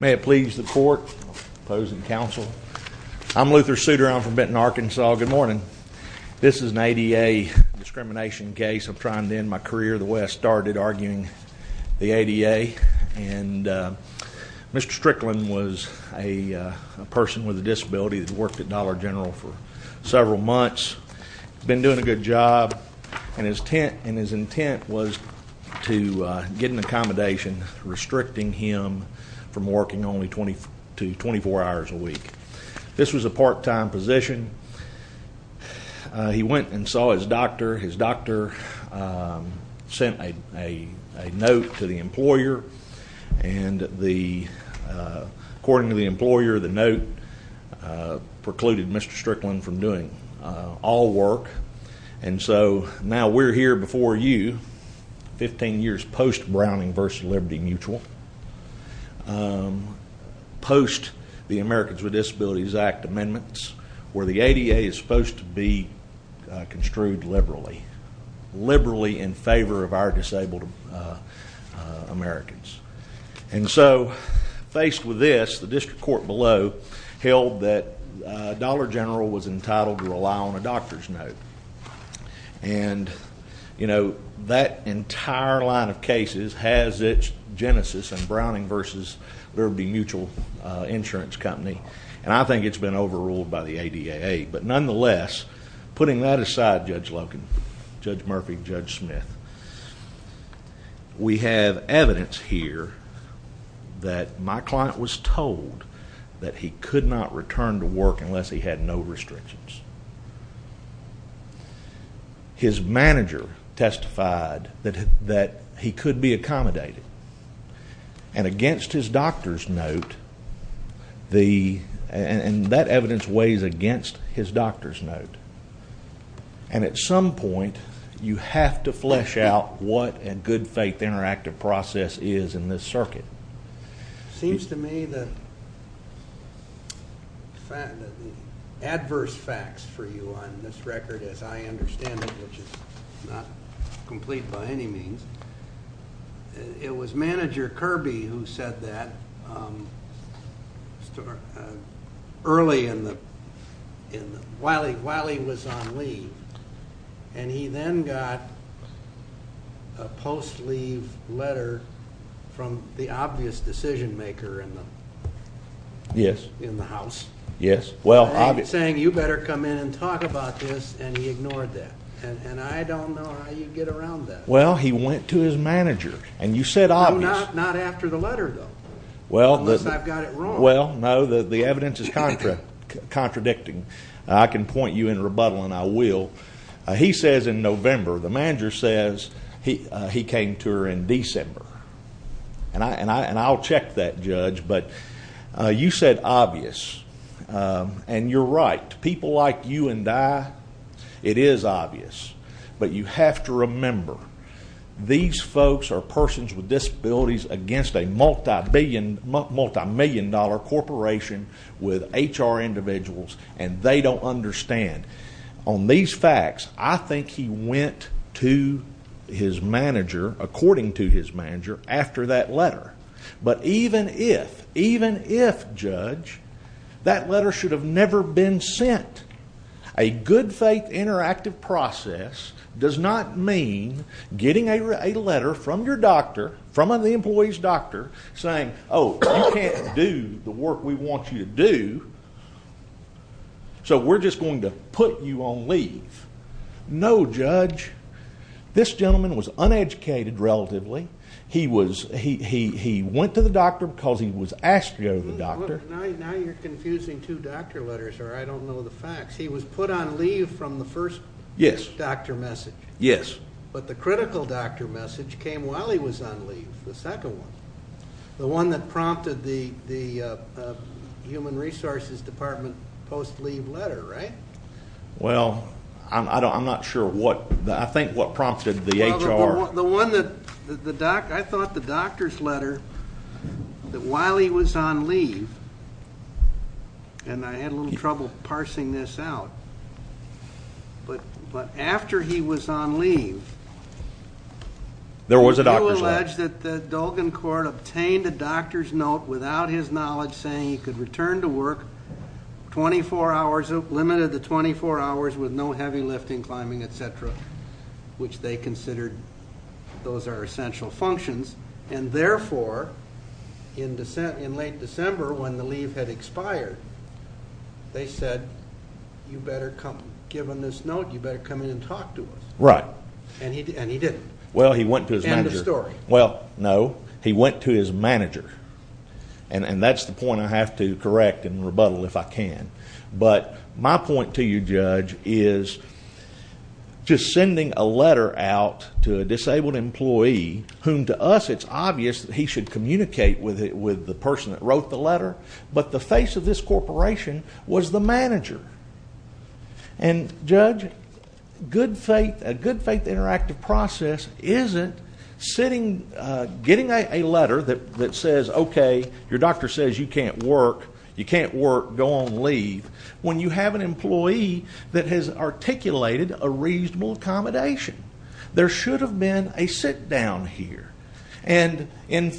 May it please the court, opposing counsel, I'm Luther Suter. I'm from Benton, Arkansas. Good morning. This is an ADA discrimination case. I'm trying to end my career the way I started arguing the ADA and Mr. Stricklin was a person with a disability that worked at Dollar General for several months. He's been doing a good job and his intent was to get an accommodation restricting him from working only 20 to 24 hours a week. This was a part-time position. He went and saw his doctor. His doctor sent a note to the employer and the according to the employer the note precluded Mr. Stricklin from doing all work and so now we're here before you 15 years post Browning versus Liberty Mutual. Post the Americans with Disabilities Act amendments where the ADA is supposed to be construed liberally. Liberally in favor of our disabled Americans and so faced with this the district court below held that Dollar General was entitled to rely on a doctor's note and you know that entire line of cases has its genesis and Browning versus Liberty Mutual insurance company and I think it's been overruled by the ADA but nonetheless putting that aside Judge Logan, Judge Murphy, Judge Smith, we have evidence here that my client was told that he could not return to work unless he had no restrictions. His manager testified that that he could be accommodated and against his doctor's note the and that evidence weighs against his doctor's note and at some point you have to flesh out what a good faith interactive process is in this circuit. Seems to me that adverse facts for you on this record as I understand it which is not complete by any means it was manager Kirby who said that um early in the in the while he while he was on leave and he then got a post-leave letter from the obvious decision maker in the yes in the house yes well I'm saying you better come in and talk about this and he ignored that and and I don't know how you get around that well he went to his manager and you said obvious not after the letter though well unless I've got it wrong well no the the evidence is contract contradicting I can point you in rebuttal and I will he says in November the manager says he he came to her in December and I and I and I'll check that judge but you said obvious and you're right people like you and I it is obvious but you have to remember these folks are persons with and they don't understand on these facts I think he went to his manager according to his manager after that letter but even if even if judge that letter should have never been sent a good faith interactive process does not mean getting a letter from your doctor from the employee's doctor saying oh you can't do the work we want you to do so we're just going to put you on leave no judge this gentleman was uneducated relatively he was he he went to the doctor because he was asked to go to the doctor now you're confusing two doctor letters or I don't know the facts he was put on leave from the first yes doctor message yes but the critical doctor message came while he was on leave the second one the one that prompted the the human resources department post leave letter right well I don't I'm not sure what I think what prompted the HR the one that the doc I thought the doctor's letter that while he was on leave and I had a little trouble parsing this out but but after he was on leave there was a doctor's letter that the Dolgan court obtained a doctor's note without his knowledge saying he could return to work 24 hours limited to 24 hours with no heavy lifting climbing etc which they considered those are essential functions and therefore in descent in late December when the leave had expired they said you better come given this note you better come in right and he and he didn't well he went to his manager story well no he went to his manager and and that's the point I have to correct and rebuttal if I can but my point to you judge is just sending a letter out to a disabled employee whom to us it's obvious that he should communicate with it with the person that wrote the letter but the face of this corporation was the manager and judge good faith a good faith interactive process isn't sitting uh getting a letter that that says okay your doctor says you can't work you can't work go on leave when you have an employee that has articulated a reasonable accommodation there should have been a sit down here and in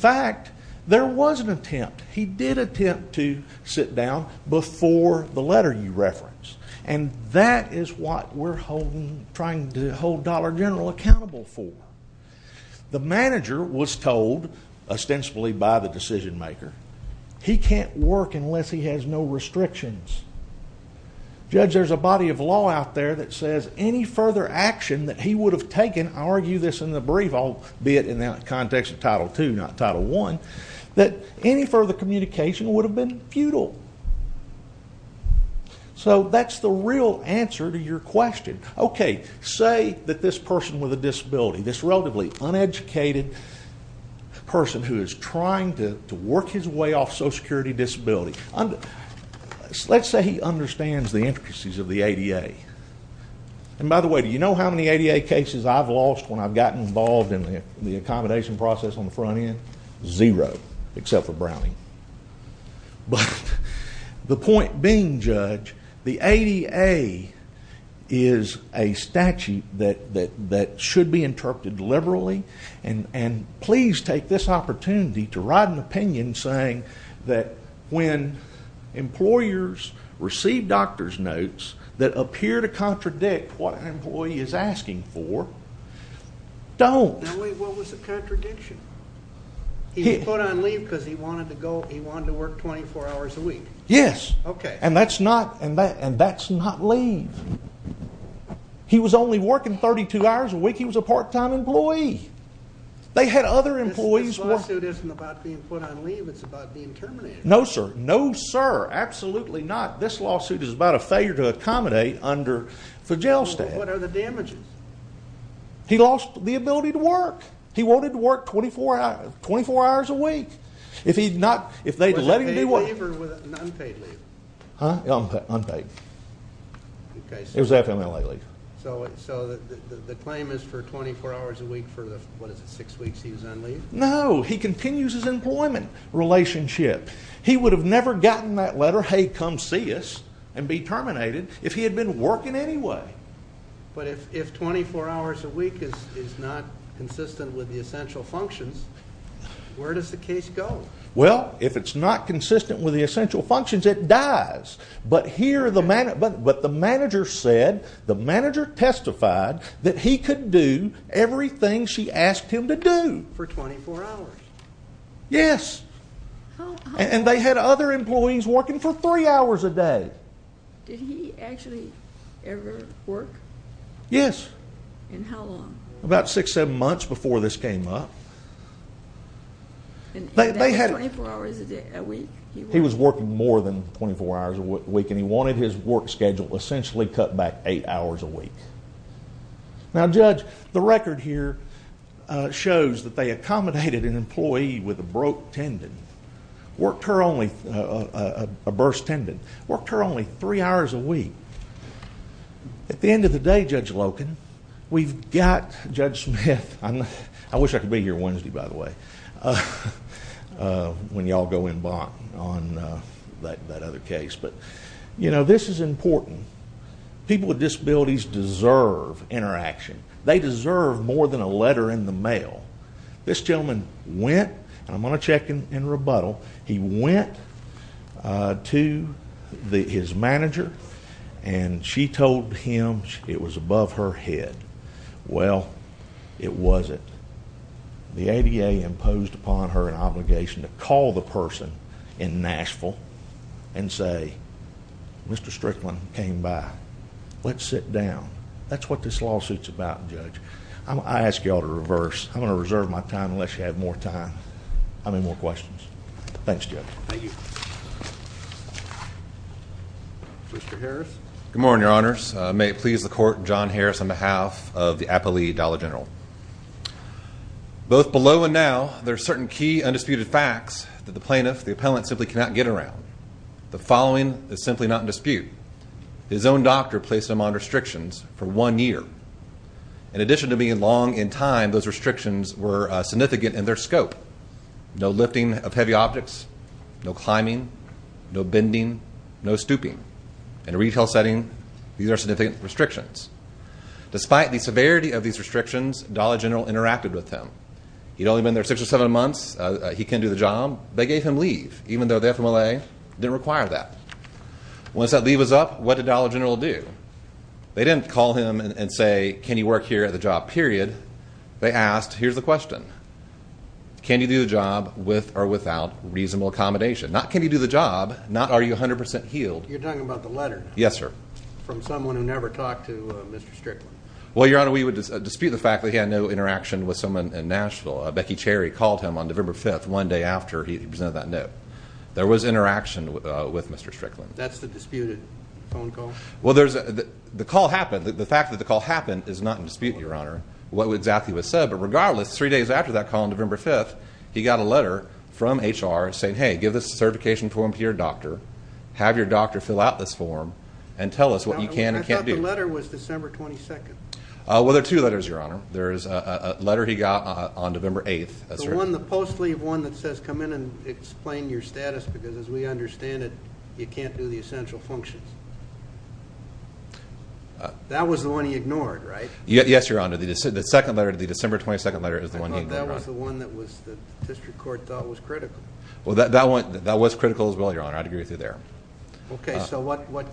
there was an attempt he did attempt to sit down before the letter you reference and that is what we're holding trying to hold dollar general accountable for the manager was told ostensibly by the decision maker he can't work unless he has no restrictions judge there's a body of law out there that says any further action that he would have taken argue this in the brief albeit in the context of title two not title one that any further communication would have been futile so that's the real answer to your question okay say that this person with a disability this relatively uneducated person who is trying to to work his way off social security disability under let's say he understands the intricacies of the cases i've lost when i've gotten involved in the accommodation process on the front end zero except for brownie but the point being judge the ada is a statute that that that should be interpreted liberally and and please take this opportunity to write an opinion saying that when employers receive doctor's notes that appear to contradict what an employee is asking for don't what was the contradiction he put on leave because he wanted to go he wanted to work 24 hours a week yes okay and that's not and that and that's not leave he was only working 32 hours a week he was a part-time employee they had other employees this lawsuit isn't about being put on it's about being terminated no sir no sir absolutely not this lawsuit is about a failure to accommodate under the jail stand what are the damages he lost the ability to work he wanted to work 24 hours 24 hours a week if he'd not if they'd let him do what with an unpaid leave unpaid okay it was fmla so so the the claim is for 24 hours a week for the what is it six weeks no he continues his employment relationship he would have never gotten that letter hey come see us and be terminated if he had been working anyway but if if 24 hours a week is is not consistent with the essential functions where does the case go well if it's not consistent with the essential functions it dies but here the man but but the manager said the manager testified that he could do everything she asked him to do for 24 hours yes and they had other employees working for three hours a day did he actually ever work yes and how long about six seven months before this came up and they had 24 hours a day a week he was working more than 24 hours a week and he wanted his work schedule essentially cut back eight hours a week now judge the record here shows that they accommodated an employee with a broke tendon worked her only a burst tendon worked her only three hours a week at the end of the day judge locan we've got judge smith i'm i wish i could be here wednesday by the way uh uh when y'all go in on uh that that other case but you know this is important people with disabilities deserve interaction they deserve more than a letter in the mail this gentleman went i'm gonna check in in rebuttal he went uh to the his manager and she told him it was above her head well it wasn't the ada imposed upon her an obligation to call the person in nashville and say mr strickland came by let's sit down that's what this lawsuit's about judge i ask y'all to reverse i'm going to reserve my time unless you have more time how many more questions thanks judge thank you mr harris good morning your honors may it please the court john harris on behalf of the appellee dollar general both below and now there are certain key undisputed facts that the plaintiff the appellant simply cannot get around the following is simply not in dispute his own doctor placed them on restrictions for one year in addition to being long in time those restrictions were significant in their scope no lifting of heavy objects no climbing no bending no stooping in a retail setting these are significant restrictions despite the severity of these restrictions dollar general interacted with him he'd only been there six or seven months he can do the job they gave him leave even though they're from l.a didn't require that once that leave was up what did dollar general do they didn't call him and say can you work here at the job period they asked here's the question can you do the job with or without reasonable accommodation not can you do the job not are you 100 healed you're talking about the yes sir from someone who never talked to mr strickland well your honor we would dispute the fact that he had no interaction with someone in nashville becky cherry called him on november 5th one day after he presented that note there was interaction with uh with mr strickland that's the disputed phone call well there's the call happened the fact that the call happened is not in dispute your honor what exactly was said but regardless three days after that call on november 5th he got a letter from hr saying hey give this certification form to your doctor have your doctor fill out this form and tell us what you can and can't do the letter was december 22nd uh well there are two letters your honor there is a letter he got on november 8th one the post leave one that says come in and explain your status because as we understand it you can't do the essential functions that was the one he ignored right yes your honor the second letter to the december 22nd letter is the one that was the one that was the district court thought was critical well that went that was critical as well your honor i'd agree with you there okay so what what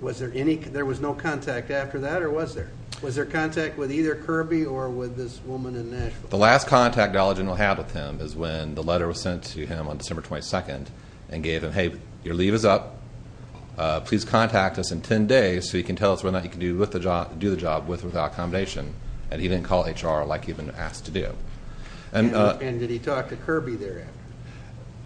was there any there was no contact after that or was there was there contact with either kirby or with this woman in nashville the last contact alleged will have with him is when the letter was sent to him on december 22nd and gave him hey your leave is up uh please contact us in 10 days so you can tell us what not you can do with the job do the job with without and he didn't call hr like he'd been asked to do and uh and did he talk to kirby thereafter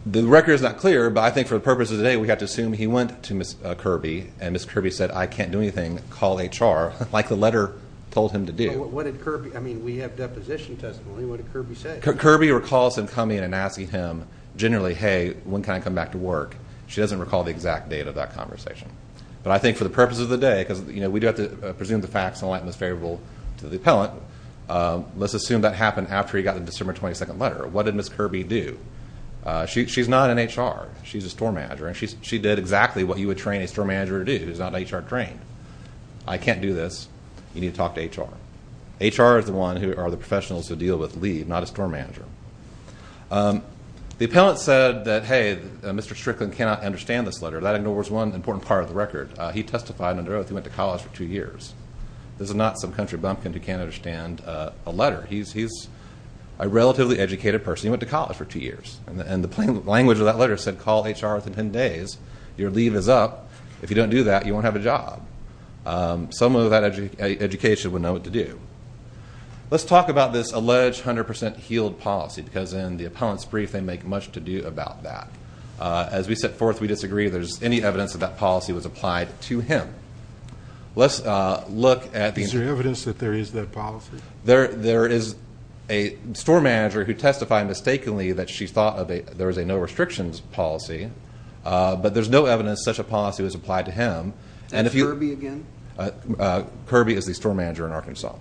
the record is not clear but i think for the purpose of today we have to assume he went to miss kirby and miss kirby said i can't do anything call hr like the letter told him to do what did kirby i mean we have deposition testimony what did kirby say kirby recalls him coming and asking him generally hey when can i come back to work she doesn't recall the exact date of that conversation but i think for the purpose of the day because you know we do have to presume the facts and it's favorable to the appellant let's assume that happened after he got the december 22nd letter what did miss kirby do uh she's not in hr she's a store manager and she's she did exactly what you would train a store manager to do he's not hr trained i can't do this you need to talk to hr hr is the one who are the professionals to deal with leave not a store manager um the appellant said that hey mr strickland cannot understand this letter that ignores one important part of the record he testified under oath he went to college for two years this is not some country bumpkin who can't understand a letter he's he's a relatively educated person he went to college for two years and the plain language of that letter said call hr within 10 days your leave is up if you don't do that you won't have a job some of that education would know what to do let's talk about this alleged 100 healed policy because in the appellant's brief they make much to do about that uh as we set forth we disagree there's any evidence that that policy was applied to him let's uh look at the evidence that there is that policy there there is a store manager who testified mistakenly that she thought of a there is a no restrictions policy uh but there's no evidence such a policy was applied to him and if you're me again uh kirby is the store manager in arkansas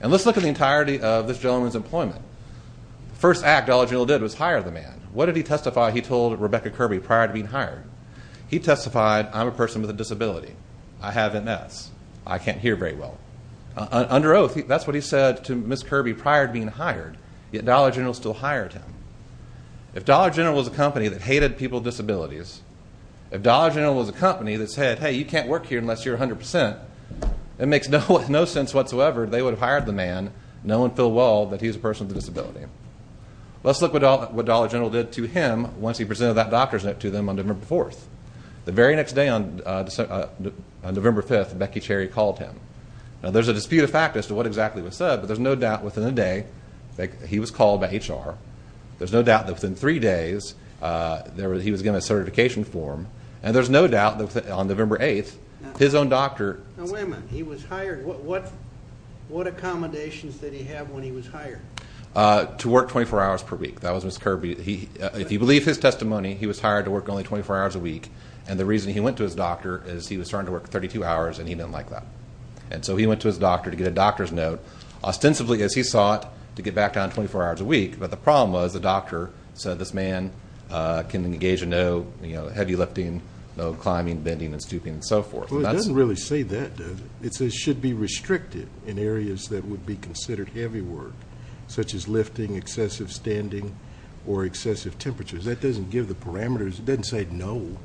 and let's look at the entirety of this gentleman's employment first act all you did was hire the man what did he testify he told rebecca kirby prior to being hired he testified i'm a person with a disability i have ms i can't hear very well under oath that's what he said to miss kirby prior to being hired yet dollar general still hired him if dollar general was a company that hated people disabilities if dollar general was a company that said hey you can't work here unless you're 100 it makes no no sense whatsoever they would have hired the man no one feel well that he's a person with a disability let's look what dollar general did to him once he presented that doctor's note to them on november 4th the very next day on uh on november 5th becky cherry called him now there's a dispute of fact as to what exactly was said but there's no doubt within a day that he was called by hr there's no doubt that within three days uh there he was given a certification form and there's no doubt that on november 8th his own doctor now wait a minute he was hired what what what accommodations did he have when he was hired uh to work 24 hours per week that was miss kirby he if you believe his testimony he was hired to work only 24 hours a week and the reason he went to his doctor is he was starting to work 32 hours and he didn't like that and so he went to his doctor to get a doctor's note ostensibly as he sought to get back down 24 hours a week but the problem was the doctor said this man uh can engage a no you know heavy lifting no climbing bending and stooping and so forth well it doesn't really say that does it says should be restricted in areas that would be considered heavy work such as lifting excessive standing or excessive temperatures that doesn't give the parameters it doesn't say no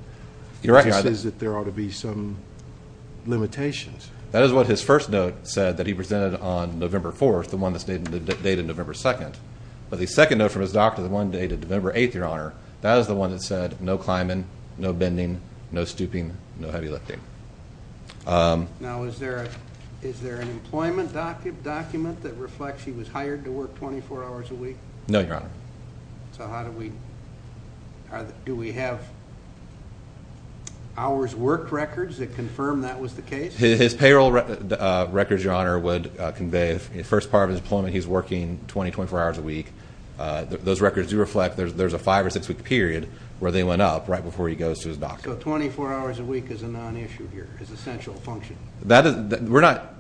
you're right it says that there ought to be some limitations that is what his first note said that he presented on november 4th the one that stayed in the date of november 2nd but the second note from his doctor the one dated november 8th your honor that is the one that said no climbing no bending no stooping no heavy lifting um now is there a is there an employment document that reflects he was hired to work 24 hours a week no your honor so how do we do we have hours work records that confirm that was the case his payroll records your honor would convey the first part of his deployment he's working 20 24 hours a week uh those records reflect there's there's a five or six week period where they went up right before he goes to his doctor so 24 hours a week is a non-issue here is essential function that is we're not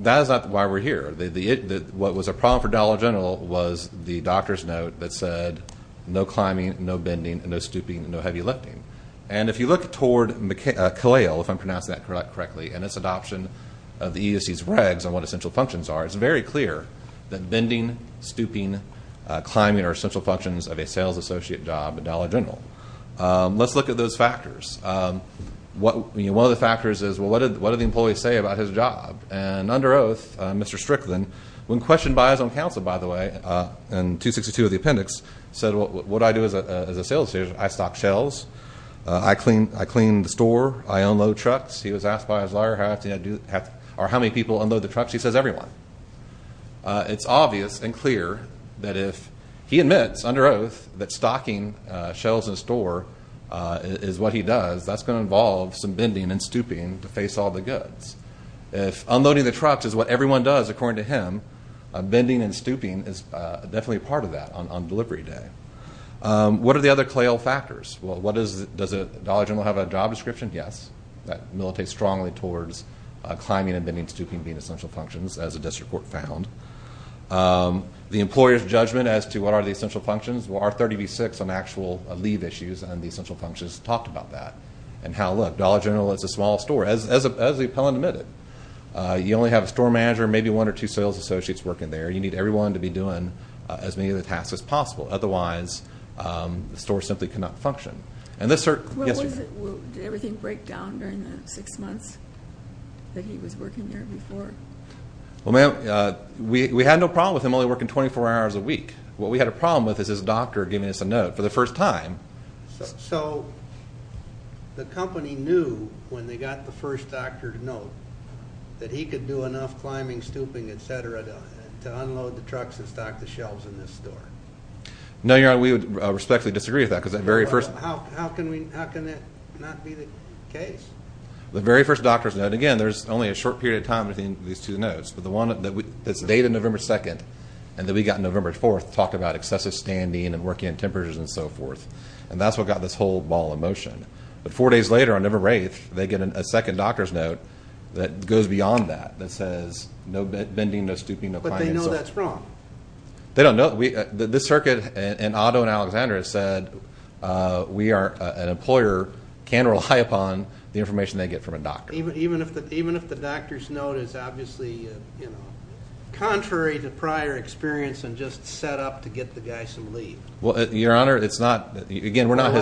that is not why we're here the the what was a problem for dollar general was the doctor's note that said no climbing no bending and no stooping no heavy lifting and if you look toward mccale if i'm pronouncing that correctly and it's adoption of the euc's regs on what essential functions are it's very clear that bending stooping uh climbing are essential functions of a sales associate job at dollar general um let's look at those factors um what you know one of the factors is well what did what did the employees say about his job and under oath mr strickland when questioned by his own counsel by the way uh and 262 of the appendix said what what i do as a sales agent i stock shelves i clean i clean the store i unload trucks he was uh it's obvious and clear that if he admits under oath that stocking uh shelves in store is what he does that's going to involve some bending and stooping to face all the goods if unloading the trucks is what everyone does according to him bending and stooping is definitely part of that on on delivery day um what are the other clail factors well what is does it dollar general have a job description yes that militates strongly towards uh climbing and stooping being essential functions as a district court found um the employer's judgment as to what are the essential functions well r30v6 on actual leave issues and the essential functions talked about that and how look dollar general is a small store as as as the appellant admitted uh you only have a store manager maybe one or two sales associates working there you need everyone to be doing as many of the tasks as possible otherwise um the store simply cannot function and this sir yes did everything break down during the six months that he was working there before well ma'am uh we we had no problem with him only working 24 hours a week what we had a problem with is his doctor giving us a note for the first time so the company knew when they got the first doctor to note that he could do enough climbing stooping etc to unload the trucks and stock the shelves in very first how can we how can that not be the case the very first doctor's note again there's only a short period of time between these two notes but the one that we it's dated november 2nd and then we got november 4th talked about excessive standing and working in temperatures and so forth and that's what got this whole ball in motion but four days later i never wraith they get a second doctor's note that goes beyond that that says no bending no stooping but they know that's wrong they don't know we this circuit and auto and alexandra said uh we are an employer can rely upon the information they get from a doctor even even if the even if the doctor's note is obviously you know contrary to prior experience and just set up to get the guys to leave well your honor it's not again we're not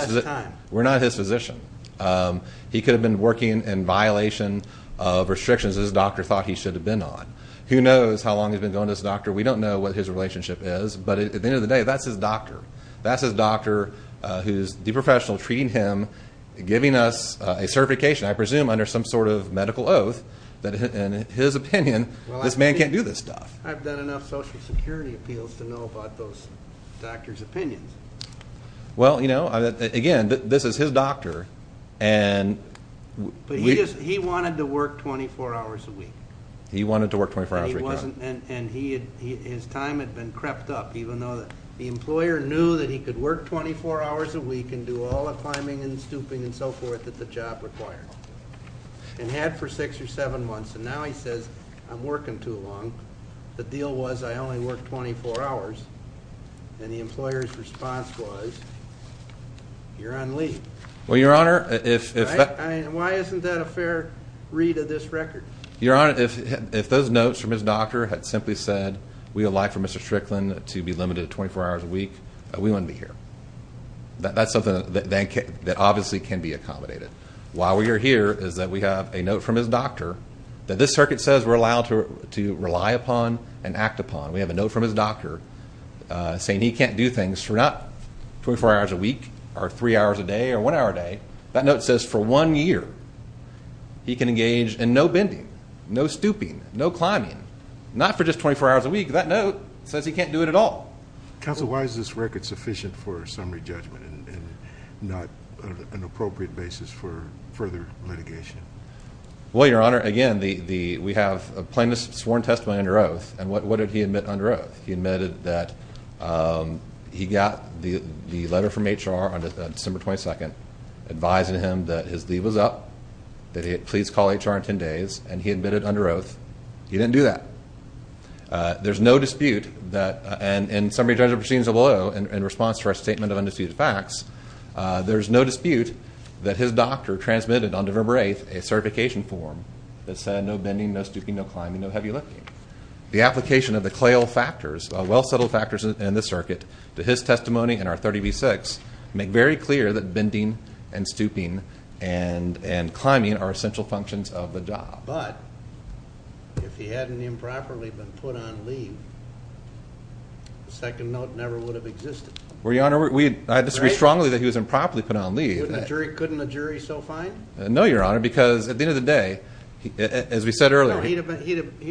we're not his physician um he could have been working in violation of restrictions his doctor thought he should have been on who knows how long he's been going to this doctor we don't know what his relationship is but at the end of the day that's his doctor that's his doctor uh who's the professional treating him giving us a certification i presume under some sort of medical oath that in his opinion this man can't do this stuff i've done enough social security appeals to know about those doctor's opinions well you know again this is his his time had been crept up even though the employer knew that he could work 24 hours a week and do all the climbing and stooping and so forth that the job required and had for six or seven months and now he says i'm working too long the deal was i only worked 24 hours and the employer's response was you're on leave well your honor if why isn't that a fair read of this record your honor if if those notes from his doctor had simply said we would like for mr strickland to be limited to 24 hours a week we wouldn't be here that's something that they can that obviously can be accommodated while we are here is that we have a note from his doctor that this circuit says we're allowed to to rely upon and act upon we have a note from his doctor uh saying he can't do things for not 24 hours a week or three hours a day or one hour a day that note says for one year he can engage in no bending no stooping no climbing not for just 24 hours a week that note says he can't do it at all council why is this record sufficient for summary judgment and not an appropriate basis for further litigation well your honor again the the we have a plaintiff's sworn testimony under oath and what did he admit under oath he admitted that um he got the the that he please call hr in 10 days and he admitted under oath he didn't do that uh there's no dispute that and in summary judgment proceedings below in response to our statement of undisputed facts there's no dispute that his doctor transmitted on november 8th a certification form that said no bending no stooping no climbing no heavy lifting the application of the clail factors well settled factors in this circuit to his testimony and our 30 v6 make very clear that bending and stooping and and climbing are essential functions of the job but if he hadn't improperly been put on leave the second note never would have existed well your honor we i disagree strongly that he was improperly put on leave couldn't the jury so fine no your honor because at the end of the day as we said earlier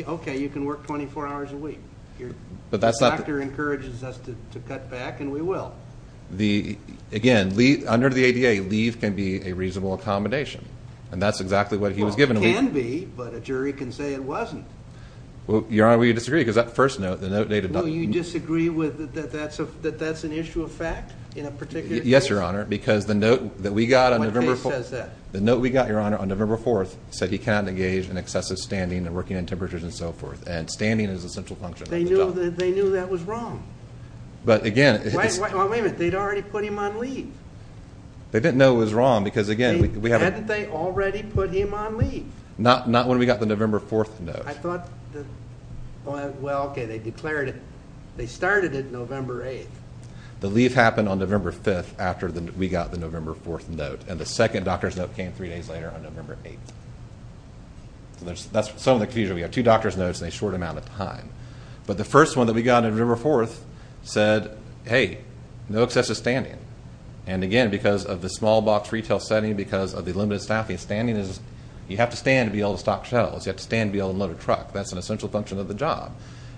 okay you can work 24 hours a week your doctor encourages us to to cut back the again leave under the ada leave can be a reasonable accommodation and that's exactly what he was given can be but a jury can say it wasn't well your honor we disagree because that first note the note dated no you disagree with that that's a that that's an issue of fact in a particular yes your honor because the note that we got on the case says that the note we got your honor on november 4th said he cannot engage in excessive standing and working in temperatures and so forth and standing is essential function they knew that they knew that was wrong but again it's wait wait wait a minute they'd already put him on leave they didn't know it was wrong because again we haven't they already put him on leave not not when we got the november 4th note i thought well okay they declared it they started it november 8th the leave happened on november 5th after the we got the november 4th note and the second doctor's note came three days later on november 8th so there's that's some of the confusion we have two doctor's notes in a short amount of time but the first one that we got in riverforth said hey no excessive standing and again because of the small box retail setting because of the limited staffing standing is you have to stand to be able to stock shelves you have to stand to be able to load a truck that's an essential function of the job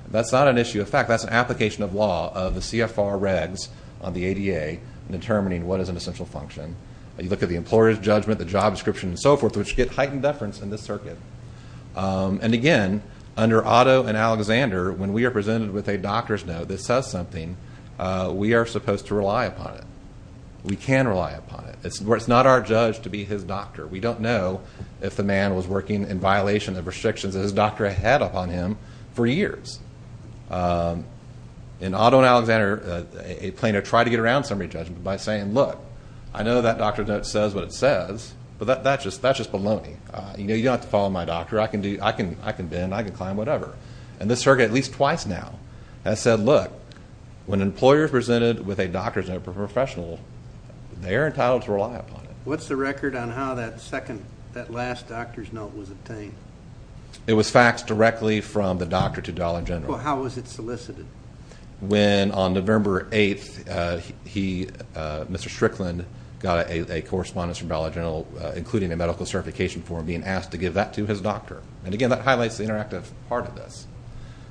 that's not an issue of fact that's an application of law of the cfr regs on the ada determining what is an essential function you look at the employer's judgment the job description and so forth which get heightened deference in this circuit and again under otto and alexander when we are presented with a doctor's note that says something we are supposed to rely upon it we can rely upon it it's where it's not our judge to be his doctor we don't know if the man was working in violation of restrictions his doctor had upon him for years in auto and alexander a planer tried to get around summary judgment by saying look i know that doctor's note says what it says but that's just that's just baloney uh you know you don't have to follow my doctor i can do i can i can bend i can climb whatever and this circuit at least twice now has said look when employers presented with a doctor's note professional they are entitled to rely upon it what's the record on how that second that last doctor's note was obtained it was faxed directly from the doctor to dollar general how was it solicited when on november 8th uh he uh mr strickland got a a correspondence from dollar general including a medical certification form being asked to give that to his doctor and again that highlights the interactive part of this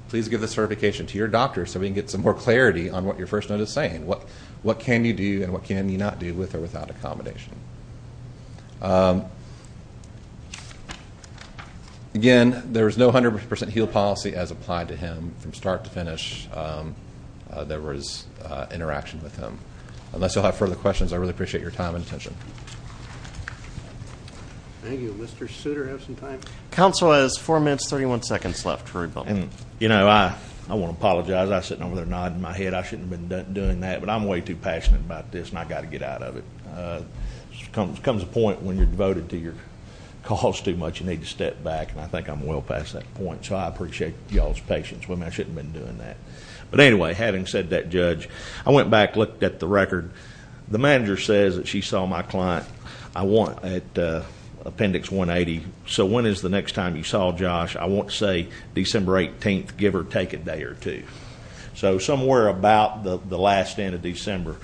please give the certification to your doctor so we can get some more clarity on what your first note is saying what what can you do and what can you not do with or without accommodation um again there's no 100 heal policy as applied to him from start to finish um there was uh interaction with him unless you'll have further questions i really appreciate your time and attention thank you mr suitor have some time council has four minutes 31 seconds left for a bump and you know i i want to apologize i sitting over there nodding my head i shouldn't have been doing that but i'm way too passionate about this and i got to get out of it comes a point when you're devoted to your cause too much you need to step back and i think i'm well past that point so i appreciate y'all's patience women i shouldn't have been doing that but anyway having said that judge i went back looked at the record the manager says that she saw my client i want at uh appendix 180 so when is the next time you saw josh i want to say december 18th give or take a day or two so somewhere about the the last end of december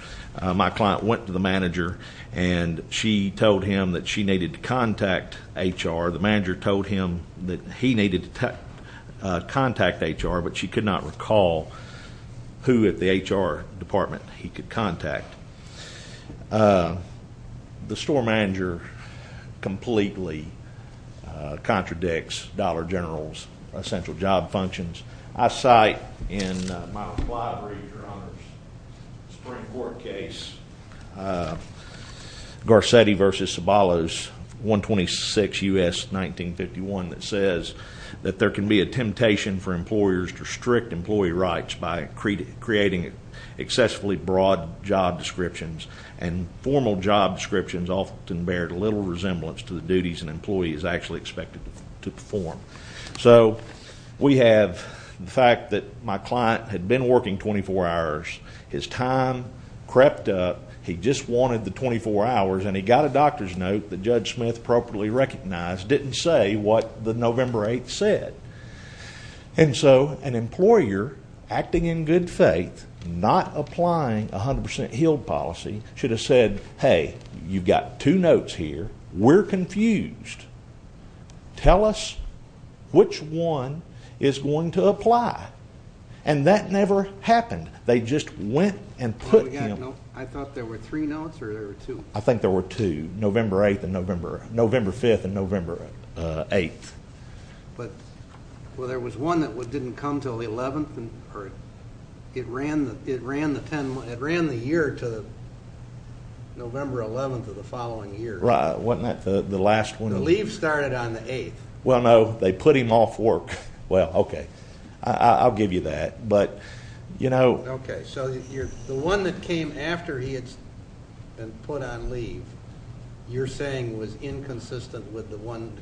my client went to the manager and she told him that she needed to contact hr the manager told him that he needed to contact hr but she could not recall who at the hr department he could contact the store manager completely contradicts dollar general's essential job functions i cite in my reply to your honor's spring court case garcetti versus sabalos 126 us 1951 that says that there can be a temptation for employers to strict employee rights by creating it excessively broad job descriptions and formal job descriptions often bear little resemblance to the duties an employee is actually expected to perform so we have the fact that my client had been working 24 hours his time crept up he just wanted the 24 hours and he got a doctor's note that judge smith appropriately recognized didn't say what the november 8th said and so an employer acting in good faith not applying 100 healed should have said hey you've got two notes here we're confused tell us which one is going to apply and that never happened they just went and put him i thought there were three notes or there were two i think there were two november 8th and november november 5th and november uh 8th but well there was one that didn't come till the 11th and or it ran it ran the 10 it ran the year to the november 11th of the following year right wasn't that the the last one the leave started on the 8th well no they put him off work well okay i'll give you that but you know okay so you're the one that came after he had been put on leave you're saying was inconsistent with the one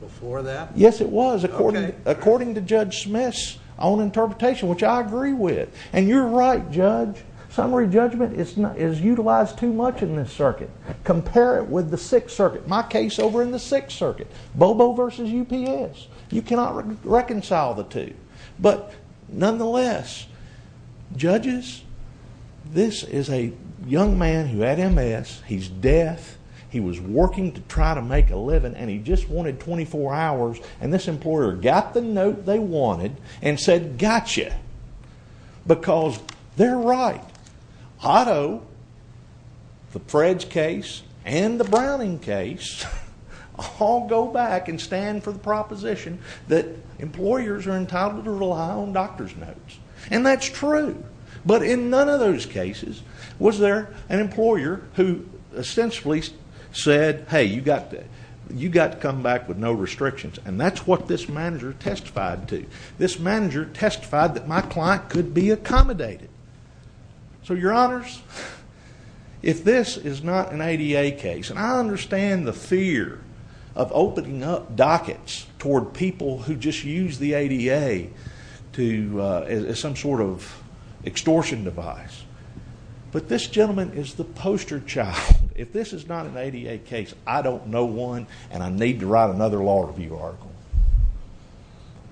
before that yes it was according according to judge smith's own interpretation which i agree with and you're right judge summary judgment is not is utilized too much in this circuit compare it with the sixth circuit my case over in the sixth circuit bobo versus ups you cannot reconcile the two but nonetheless judges this is a young man who had ms he's deaf he was working to try to make a living and he just wanted 24 hours and this employer got the note they wanted and said gotcha because they're right otto the fred's case and the browning case all go back and stand for the proposition that employers are entitled to rely on doctor's notes and that's true but in none of those cases was there an employer who essentially said hey you got to you got to come back with no restrictions and that's what this manager testified to this manager testified that my client could be accommodated so your honors if this is not an ada case and i understand the fear of opening up dockets toward people who just use the ada to uh as some sort of extortion device but this gentleman is the poster child if this is not an ada case i don't know one and i need to write another law review article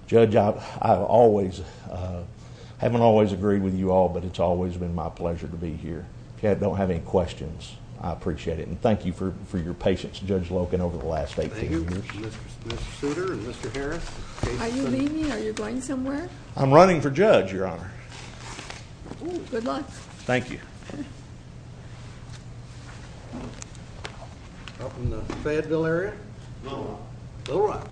judge out i've always uh haven't always agreed with you all but it's always been my pleasure to be here okay i don't have any questions i appreciate it and thank you for for your patience judge locan over the last 18 years are you leaving are you going somewhere i'm running for judge your honor good luck thank you up in the fayetteville area